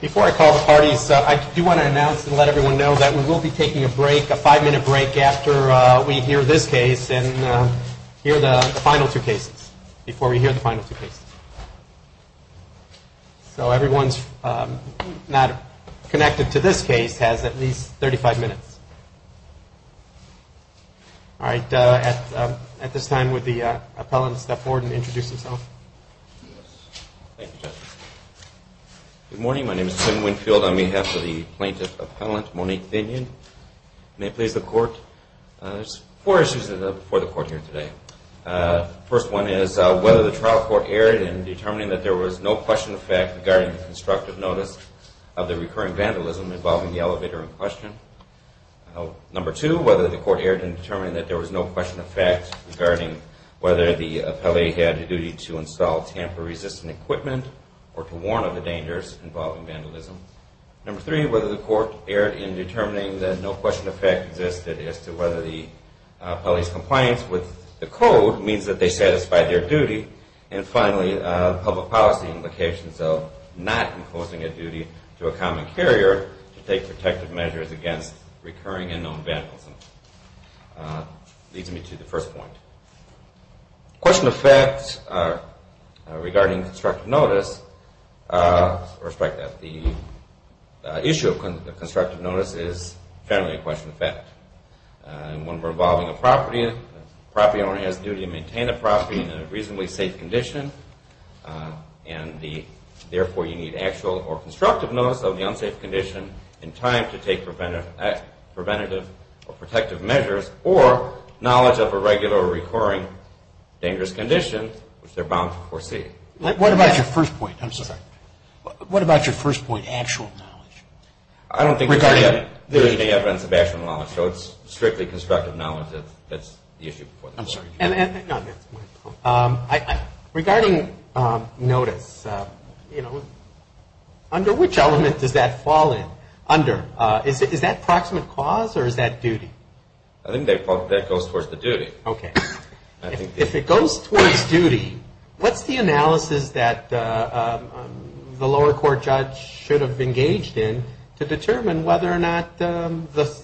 Before I call the parties, I do want to announce and let everyone know that we will be taking a break, a five-minute break, after we hear this case. and hear the final two cases, before we hear the final two cases. So everyone not connected to this case has at least 35 minutes. All right, at this time, would the appellant step forward and introduce himself? Good morning, my name is Tim Winfield, on behalf of the plaintiff appellant, Monique Binion. May it please the court, there's four issues before the court here today. First one is whether the trial court erred in determining that there was no question of fact regarding the constructive notice of the recurring vandalism involving the elevator in question. Number two, whether the court erred in determining that there was no question of fact regarding whether the appellee had a duty to install tamper-resistant equipment or to warn of the dangers involving vandalism. Number three, whether the court erred in determining that no question of fact existed as to whether the appellee's compliance with the code means that they satisfied their duty. And finally, public policy implications of not imposing a duty to a common carrier to take protective measures against recurring and known vandalism. Leads me to the first point. Question of fact regarding constructive notice, the issue of constructive notice is generally a question of fact. And when we're involving a property, the property owner has a duty to maintain the property in a reasonably safe condition. And therefore, you need actual or constructive notice of the unsafe condition in time to take preventative or protective measures or knowledge of a regular or recurring dangerous condition, which they're bound to foresee. What about your first point? I'm sorry. What about your first point, actual knowledge? I don't think there's any evidence of actual knowledge, so it's strictly constructive knowledge that's the issue. I'm sorry. Regarding notice, under which element does that fall in? Is that proximate cause or is that duty? If it goes towards duty, what's the analysis that the lower court judge should have engaged in to determine whether or not the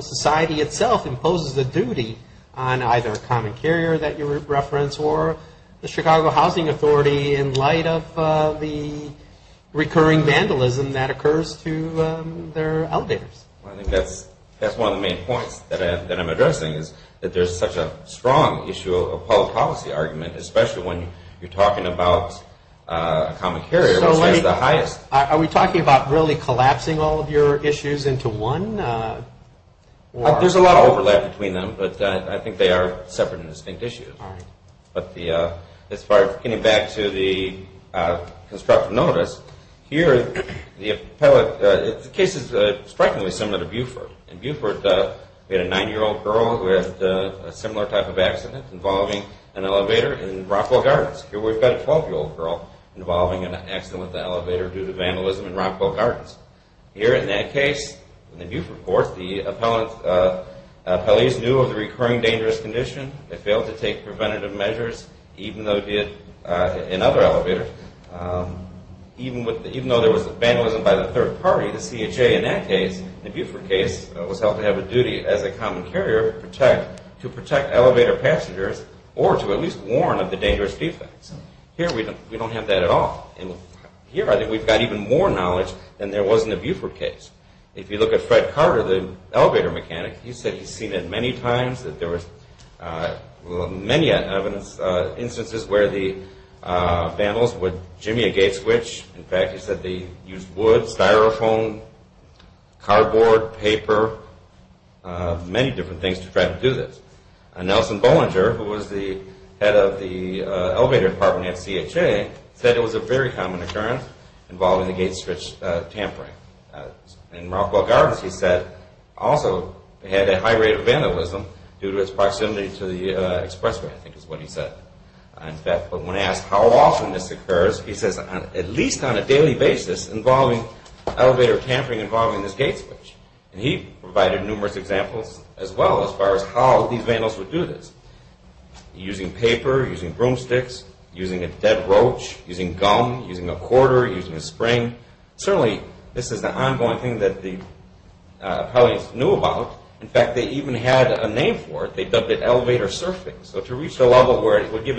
society itself imposes a duty on either a common carrier that you referenced or the Chicago Housing Authority in light of the recurring vandalism that occurs to their elevators? I think that's one of the main points that I'm addressing is that there's such a strong issue of public policy argument, especially when you're talking about a common carrier, which has the highest... Are we talking about really collapsing all of your issues into one? There's a lot of overlap between them, but I think they are separate and distinct issues. All right. As far as getting back to the constructive notice, here the case is strikingly similar to Beaufort. In Beaufort, we had a 9-year-old girl who had a similar type of accident involving an elevator in Rockwell Gardens. Here we've got a 12-year-old girl involving an accident with an elevator due to vandalism in Rockwell Gardens. Here in that case, in the Beaufort court, the appellees knew of the recurring dangerous condition. They failed to take preventative measures, even though it did in other elevators. Even though there was vandalism by the third party, the CHA, in that case, the Beaufort case was held to have a duty as a common carrier to protect elevator passengers or to at least warn of the dangerous defects. Here we don't have that at all. Here I think we've got even more knowledge than there was in the Beaufort case. If you look at Fred Carter, the elevator mechanic, he said he's seen it many times, that there were many instances where the vandals would jimmy a gate switch. In fact, he said they used wood, styrofoam, cardboard, paper, many different things to try to do this. Nelson Bollinger, who was the head of the elevator department at CHA, said it was a very common occurrence involving the gate switch tampering. In Rockwell Gardens, he said, also had a high rate of vandalism due to its proximity to the expressway, I think is what he said. In fact, when asked how often this occurs, he says at least on a daily basis involving elevator tampering involving this gate switch. He provided numerous examples as well as far as how these vandals would do this. Using paper, using broomsticks, using a dead roach, using gum, using a quarter, using a spring. Certainly, this is an ongoing thing that the appellees knew about. In fact, they even had a name for it. They dubbed it elevator surfing. So to reach the level where it would give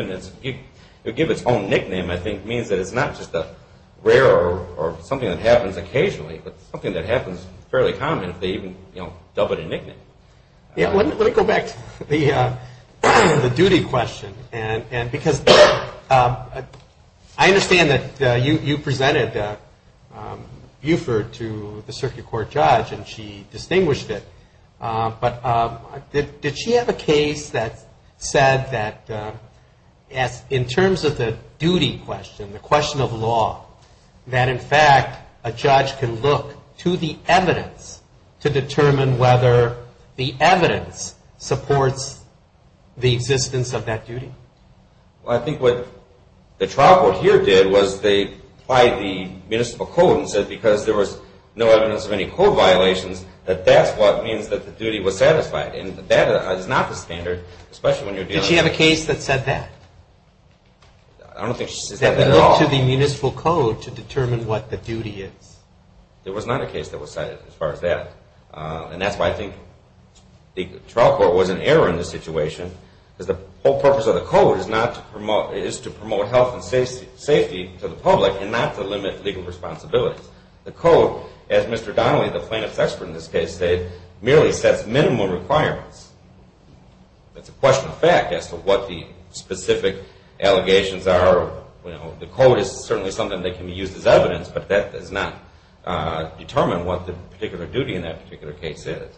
its own nickname, I think, means that it's not just a rare or something that happens occasionally, but something that happens fairly commonly if they even dub it a nickname. Let me go back to the duty question. Because I understand that you presented Buford to the circuit court judge, and she distinguished it. But did she have a case that said that in terms of the duty question, the question of law, that in fact a judge can look to the evidence to determine whether the evidence supports the existence of that duty? Well, I think what the trial court here did was they applied the municipal code and said because there was no evidence of any code violations, that that's what means that the duty was satisfied. And that is not the standard, especially when you're dealing with- Did she have a case that said that? I don't think she said that at all. That looked to the municipal code to determine what the duty is. There was not a case that was cited as far as that. And that's why I think the trial court was in error in this situation, because the whole purpose of the code is to promote health and safety to the public and not to limit legal responsibilities. The code, as Mr. Donnelly, the plaintiff's expert in this case, said, merely sets minimum requirements. It's a question of fact as to what the specific allegations are. The code is certainly something that can be used as evidence, but that does not determine what the particular duty in that particular case is.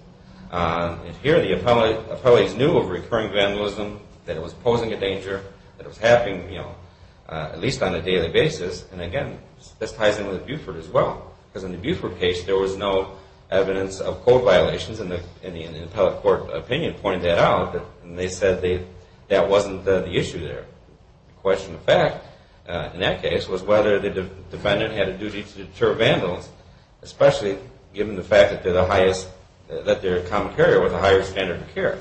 And here the appellees knew of recurring vandalism, that it was posing a danger, that it was happening at least on a daily basis. And again, this ties in with Buford as well. Because in the Buford case, there was no evidence of code violations, and the appellate court opinion pointed that out. And they said that wasn't the issue there. The question of fact in that case was whether the defendant had a duty to deter vandals, especially given the fact that they're a common carrier with a higher standard of care.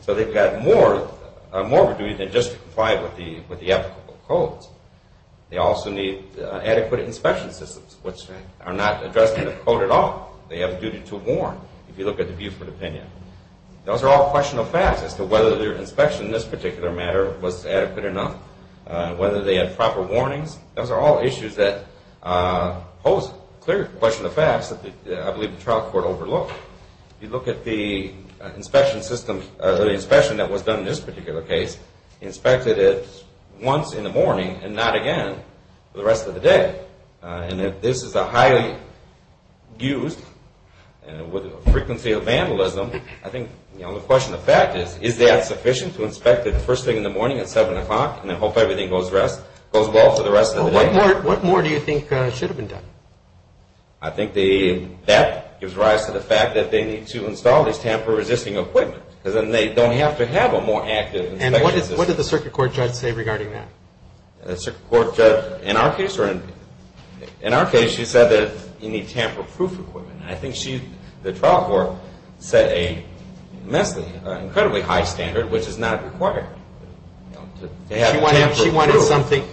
So they've got more of a duty than just to comply with the applicable codes. They also need adequate inspection systems, which are not addressed in the code at all. They have a duty to warn, if you look at the Buford opinion. Those are all questionable facts as to whether their inspection in this particular matter was adequate enough, whether they had proper warnings. Those are all issues that pose a clear question of facts that I believe the trial court overlooked. If you look at the inspection system, the inspection that was done in this particular case, inspected it once in the morning and not again for the rest of the day. And if this is a highly used frequency of vandalism, I think the question of fact is, is that sufficient to inspect it the first thing in the morning at 7 o'clock and then hope everything goes well for the rest of the day? Well, what more do you think should have been done? I think that gives rise to the fact that they need to install these tamper-resisting equipment because then they don't have to have a more active inspection system. And what did the circuit court judge say regarding that? The circuit court judge, in our case, she said that you need tamper-proof equipment. I think the trial court set an immensely, incredibly high standard, which is not required.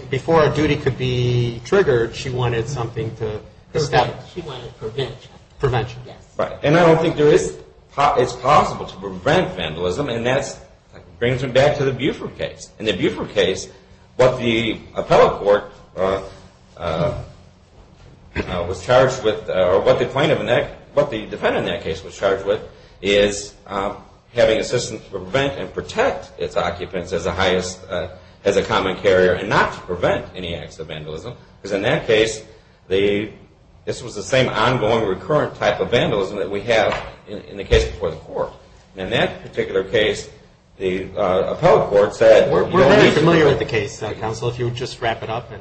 Before a duty could be triggered, she wanted something to establish. She wanted prevention. And I don't think it's possible to prevent vandalism, and that brings me back to the Buford case. In the Buford case, what the defendant in that case was charged with is having assistance to prevent and protect its occupants as a common carrier and not to prevent any acts of vandalism. Because in that case, this was the same ongoing recurrent type of vandalism In that particular case, the appellate court said... We're very familiar with the case, counsel, if you would just wrap it up.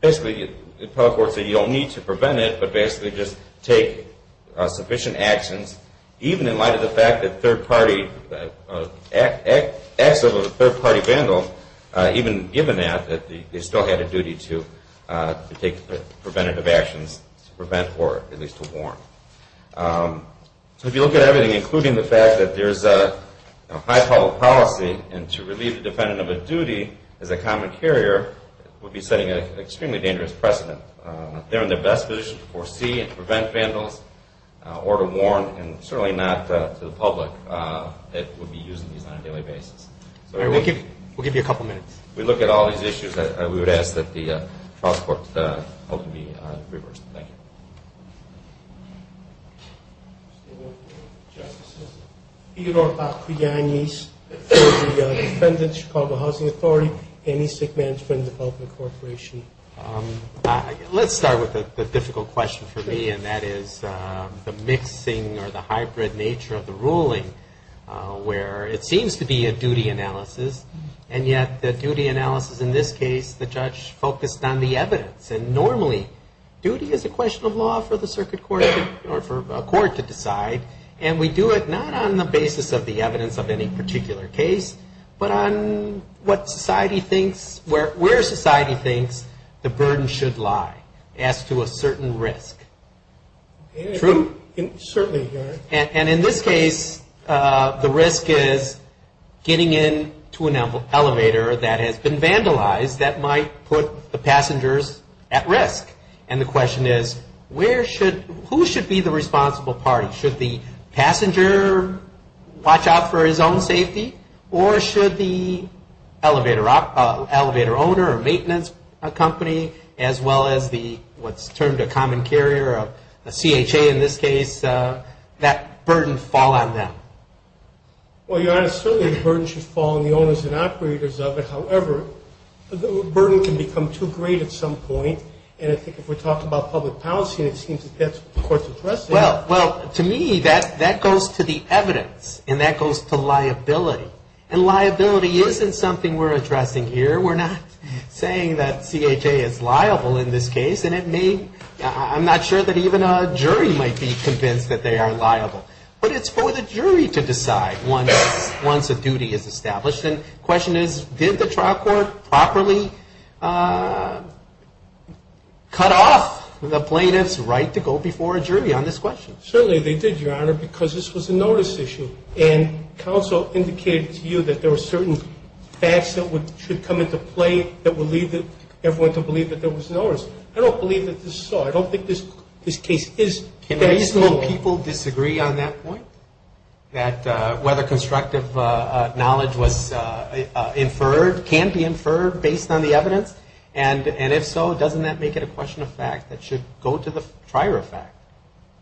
Basically, the appellate court said you don't need to prevent it, but basically just take sufficient actions, even in light of the fact that acts of a third-party vandal, even given that, they still had a duty to take preventative actions to prevent or at least to warn. If you look at everything, including the fact that there's a high public policy and to relieve the defendant of a duty as a common carrier would be setting an extremely dangerous precedent. They're in their best position to foresee and prevent vandals, or to warn, and certainly not to the public that would be using these on a daily basis. We'll give you a couple minutes. If we look at all these issues, we would ask that the trial court vote to be reversed. Thank you. Let's start with the difficult question for me, and that is the mixing or the hybrid nature of the ruling where it seems to be a duty analysis, and yet the duty analysis in this case, the judge focused on the evidence, and normally duty is a question of law for the circuit court or for a court to decide, and we do it not on the basis of the evidence of any particular case, but on what society thinks, where society thinks the burden should lie as to a certain risk. True? Certainly. And in this case, the risk is getting into an elevator that has been vandalized that might put the passengers at risk, and the question is who should be the responsible party? Should the passenger watch out for his own safety, or should the elevator owner or maintenance company, as well as what's termed a common carrier, a CHA in this case, that burden fall on them? Well, Your Honor, certainly the burden should fall on the owners and operators of it. However, the burden can become too great at some point, and I think if we talk about public policy, it seems that that's what the court's addressing. Well, to me, that goes to the evidence, and that goes to liability, and liability isn't something we're addressing here. We're not saying that CHA is liable in this case, and I'm not sure that even a jury might be convinced that they are liable, but it's for the jury to decide once a duty is established, and the question is did the trial court properly cut off the plaintiff's right to go before a jury on this question? Certainly they did, Your Honor, because this was a notice issue, and counsel indicated to you that there were certain facts that should come into play that would lead everyone to believe that there was notice. I don't believe that this is so. I don't think this case is caseable. Can reasonable people disagree on that point, that whether constructive knowledge was inferred, can be inferred based on the evidence, and if so, doesn't that make it a question of fact that should go to the prior effect?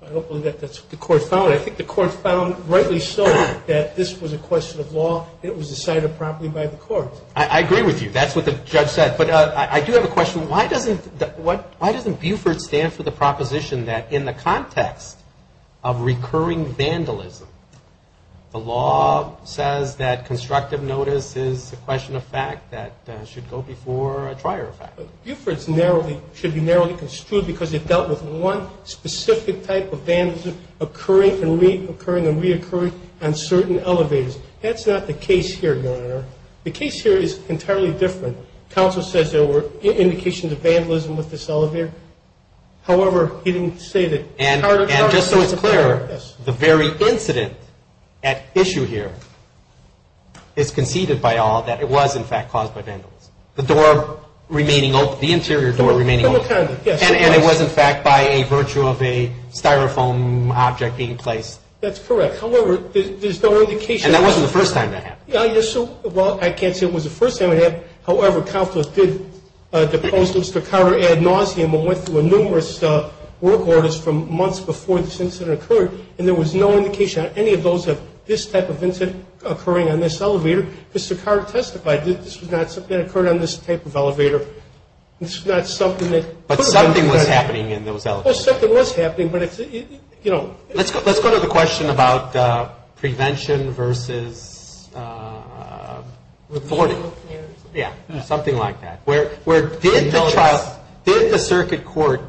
I don't believe that's what the court found. I think the court found rightly so that this was a question of law. It was decided properly by the court. I agree with you. That's what the judge said, but I do have a question. Why doesn't Buford stand for the proposition that in the context of recurring vandalism, the law says that constructive notice is a question of fact that should go before a prior effect? Buford should be narrowly construed because it dealt with one specific type of vandalism occurring and reoccurring on certain elevators. That's not the case here, Your Honor. The case here is entirely different. Counsel says there were indications of vandalism with this elevator. However, he didn't say that. And just so it's clear, the very incident at issue here is conceded by all that it was, in fact, caused by vandalism. The door remaining open, the interior door remaining open. Yes. And it was, in fact, by a virtue of a Styrofoam object being placed. That's correct. However, there's no indication. And that wasn't the first time that happened. Well, I can't say it was the first time it happened. However, counsel did depose Mr. Carter, add nauseam, and went through numerous work orders from months before this incident occurred, and there was no indication on any of those of this type of incident occurring on this elevator. Mr. Carter testified that this was not something that occurred on this type of elevator. This was not something that could have been done. But something was happening in those elevators. Well, something was happening, but it's, you know. Let's go to the question about prevention versus authority. Yeah. Something like that. Did the circuit court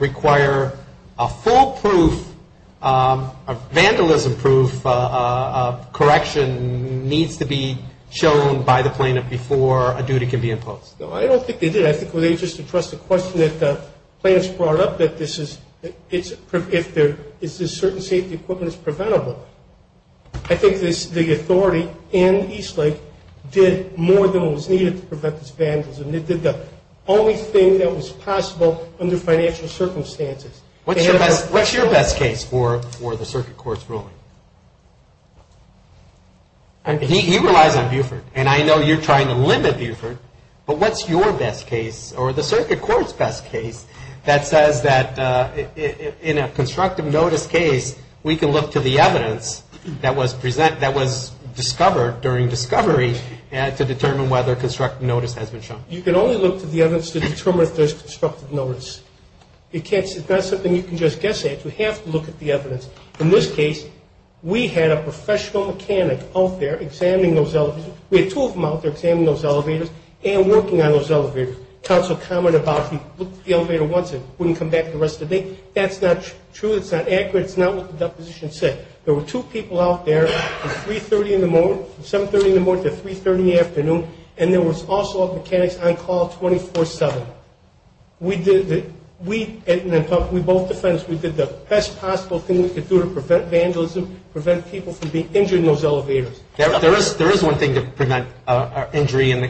require a full proof, a vandalism proof, a correction needs to be shown by the plaintiff before a duty can be imposed? No, I don't think they did. I think they just addressed the question that the plaintiffs brought up, that this is certain safety equipment is preventable. I think the authority in Eastlake did more than was needed to prevent this vandalism. It did the only thing that was possible under financial circumstances. What's your best case for the circuit court's ruling? He relies on Buford, and I know you're trying to limit Buford, but what's your best case, or the circuit court's best case, that says that in a constructive notice case, we can look to the evidence that was discovered during discovery to determine whether constructive notice has been shown? You can only look to the evidence to determine if there's constructive notice. It's not something you can just guess at. You have to look at the evidence. In this case, we had a professional mechanic out there examining those elevators. We had two of them out there examining those elevators and working on those elevators. Counsel commented about if you looked at the elevator once, it wouldn't come back the rest of the day. That's not true. It's not accurate. It's not what the deposition said. There were two people out there from 3.30 in the morning, 7.30 in the morning to 3.30 in the afternoon, and there was also a mechanic on call 24-7. We did the best possible thing we could do to prevent vandalism, prevent people from being injured in those elevators. There is one thing to prevent injury in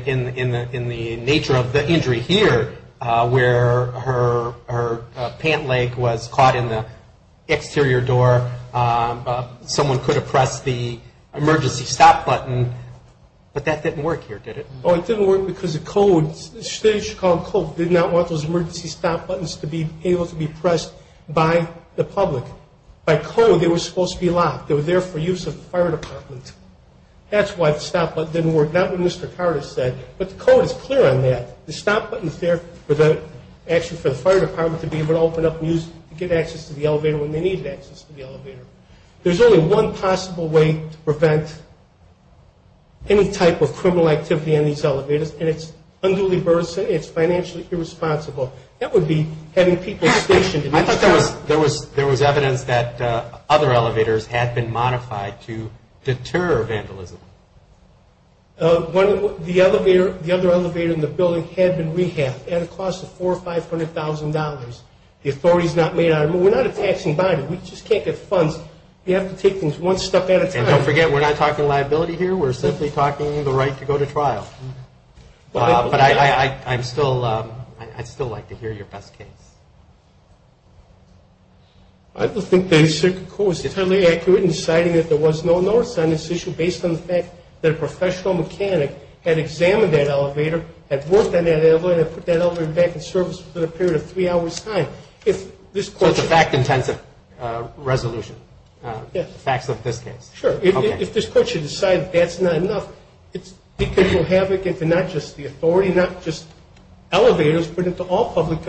the nature of the injury here where her pant leg was caught in the exterior door. Someone could have pressed the emergency stop button, but that didn't work here, did it? Oh, it didn't work because the code, the state of Chicago code, did not want those emergency stop buttons to be able to be pressed by the public. By code, they were supposed to be locked. They were there for use of the fire department. That's why the stop button didn't work, not what Mr. Carter said. But the code is clear on that. The stop button is there actually for the fire department to be able to open up and get access to the elevator when they needed access to the elevator. There's only one possible way to prevent any type of criminal activity in these elevators, and it's unduly burdensome. It's financially irresponsible. That would be having people stationed in these elevators. I think there was evidence that other elevators had been modified to deter vandalism. The other elevator in the building had been rehabbed at a cost of $400,000 or $500,000. The authority is not made out of money. We're not a taxing body. We just can't get funds. We have to take things one step at a time. And don't forget, we're not talking liability here. We're simply talking the right to go to trial. But I'd still like to hear your best case. I don't think the circuit court was entirely accurate in deciding that there was no notice on this issue based on the fact that a professional mechanic had examined that elevator, had worked on that elevator, put that elevator back in service for a period of three hours' time. So it's a fact-intensive resolution, the facts of this case? Sure. If this court should decide that that's not enough, it's decontrolled havoc into not just the authority, not just elevators, but into all public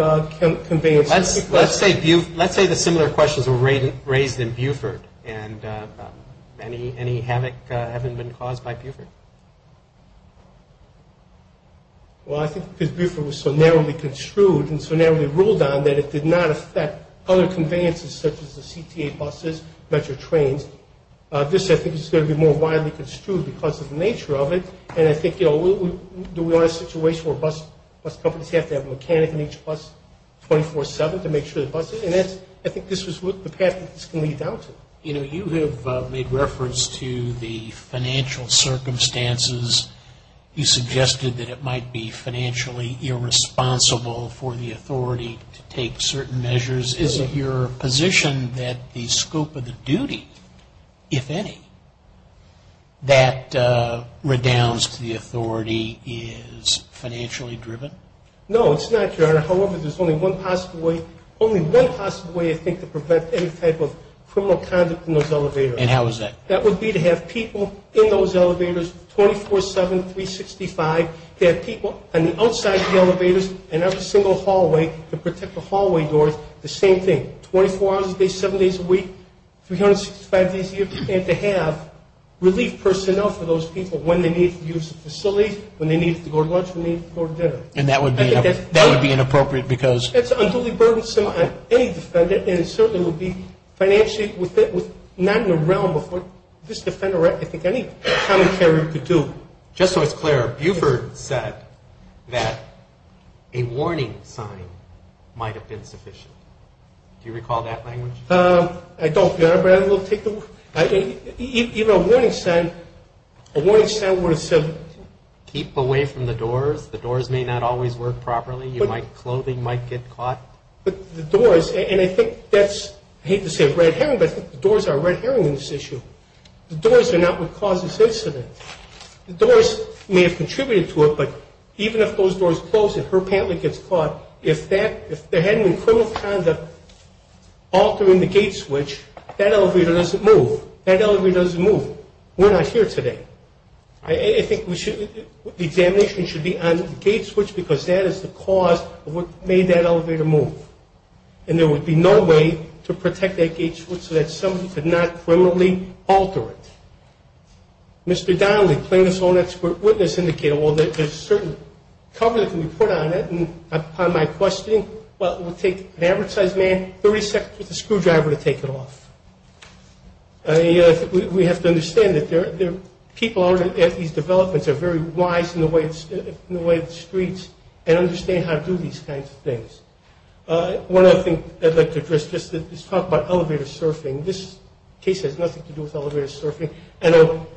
conveyances. Let's say the similar questions were raised in Buford. And any havoc haven't been caused by Buford? Well, I think because Buford was so narrowly construed and so narrowly ruled on that it did not affect other conveyances such as the CTA buses, metro trains. This, I think, is going to be more widely construed because of the nature of it. And I think, you know, do we want a situation where bus companies have to have a mechanic in each bus 24-7 to make sure the buses? And I think this was the path that this can lead down to. You know, you have made reference to the financial circumstances. You suggested that it might be financially irresponsible for the authority to take certain measures. Is it your position that the scope of the duty, if any, that redounds to the authority is financially driven? No, it's not, Your Honor. However, there's only one possible way, only one possible way, I think, to prevent any type of criminal conduct in those elevators. And how is that? That would be to have people in those elevators 24-7, 365, to have people on the outside of the elevators and every single hallway to protect the hallway doors, the same thing, 24 hours a day, 7 days a week, 365 days a year, and to have relief personnel for those people when they need to use the facility, when they need to go to lunch, when they need to go to dinner. And that would be inappropriate because? That's unduly burdensome on any defendant, and it certainly would be financially not in the realm of what this defendant or I think any common carrier could do. Just so it's clear, Buford said that a warning sign might have been sufficient. Do you recall that language? I don't, Your Honor, but I will take the word. Even a warning sign, a warning sign would have said? Keep away from the doors. The doors may not always work properly. Clothing might get caught. But the doors, and I think that's, I hate to say a red herring, but I think the doors are a red herring in this issue. The doors are not what caused this incident. The doors may have contributed to it, but even if those doors closed and her pant leg gets caught, if there hadn't been criminal conduct altering the gate switch, that elevator doesn't move. That elevator doesn't move. We're not here today. I think the examination should be on the gate switch because that is the cause of what made that elevator move. And there would be no way to protect that gate switch so that somebody could not criminally alter it. Mr. Donnelly, plaintiff's own expert witness, indicated, well, there's a certain cover that can be put on it, and upon my questioning, well, it would take an advertised man 30 seconds with a screwdriver to take it off. We have to understand that people at these developments are very wise in the way of the streets and understand how to do these kinds of things. One other thing I'd like to address is talk about elevator surfing. This case has nothing to do with elevator surfing. I know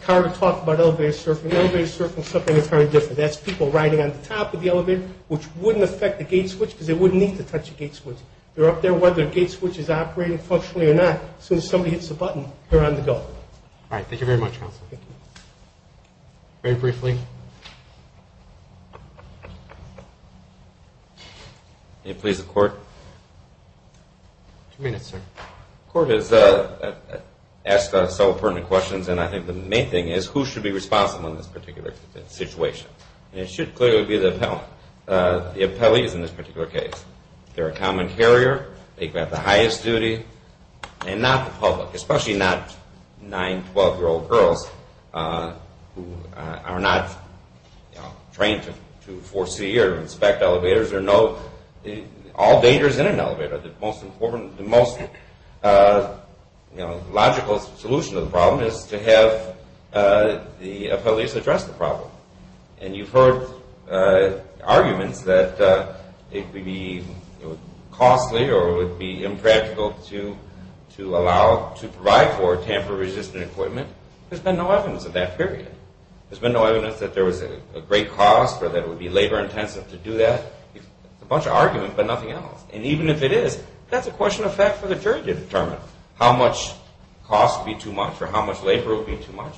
Carter talked about elevator surfing. Elevator surfing is something entirely different. That's people riding on the top of the elevator, which wouldn't affect the gate switch because they wouldn't need to touch the gate switch. They're up there whether the gate switch is operating functionally or not. As soon as somebody hits the button, they're on the go. All right. Thank you very much, counsel. Thank you. Very briefly. May it please the court? Two minutes, sir. The court has asked us several pertinent questions, and I think the main thing is who should be responsible in this particular situation, and it should clearly be the appellant. The appellee is in this particular case. They're a common carrier. They can have the highest duty, and not the public, especially not nine, 12-year-old girls who are not trained to foresee or inspect elevators or know all dangers in an elevator. The most logical solution to the problem is to have the appellee address the problem, and you've heard arguments that it would be costly or it would be impractical to allow to provide for tamper-resistant equipment. There's been no evidence of that period. There's been no evidence that there was a great cost or that it would be labor-intensive to do that. It's a bunch of arguments but nothing else, and even if it is, that's a question of fact for the jury to determine. How much cost would be too much or how much labor would be too much,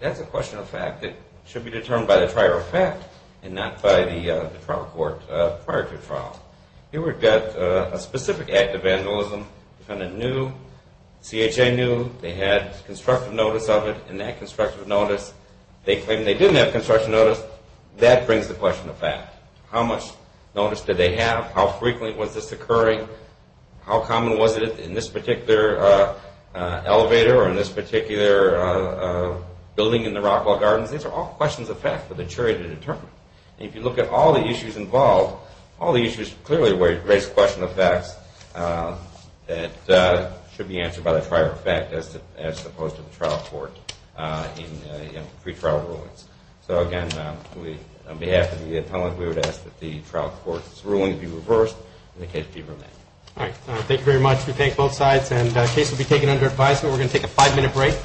that's a question of fact that should be determined by the trial fact and not by the trial court prior to trial. Here we've got a specific act of vandalism. The defendant knew, CHA knew, they had constructive notice of it, and that constructive notice, they claim they didn't have constructive notice, that brings the question of fact. How much notice did they have? How frequently was this occurring? How common was it in this particular elevator or in this particular building in the Rockwell Gardens? These are all questions of fact for the jury to determine. If you look at all the issues involved, all the issues clearly raise questions of facts that should be answered by the prior fact as opposed to the trial court in pretrial rulings. So again, on behalf of the attorney, we would ask that the trial court's ruling be reversed and the case be remanded. All right, thank you very much. We thank both sides, and the case will be taken under advisement. We're going to take a five-minute break.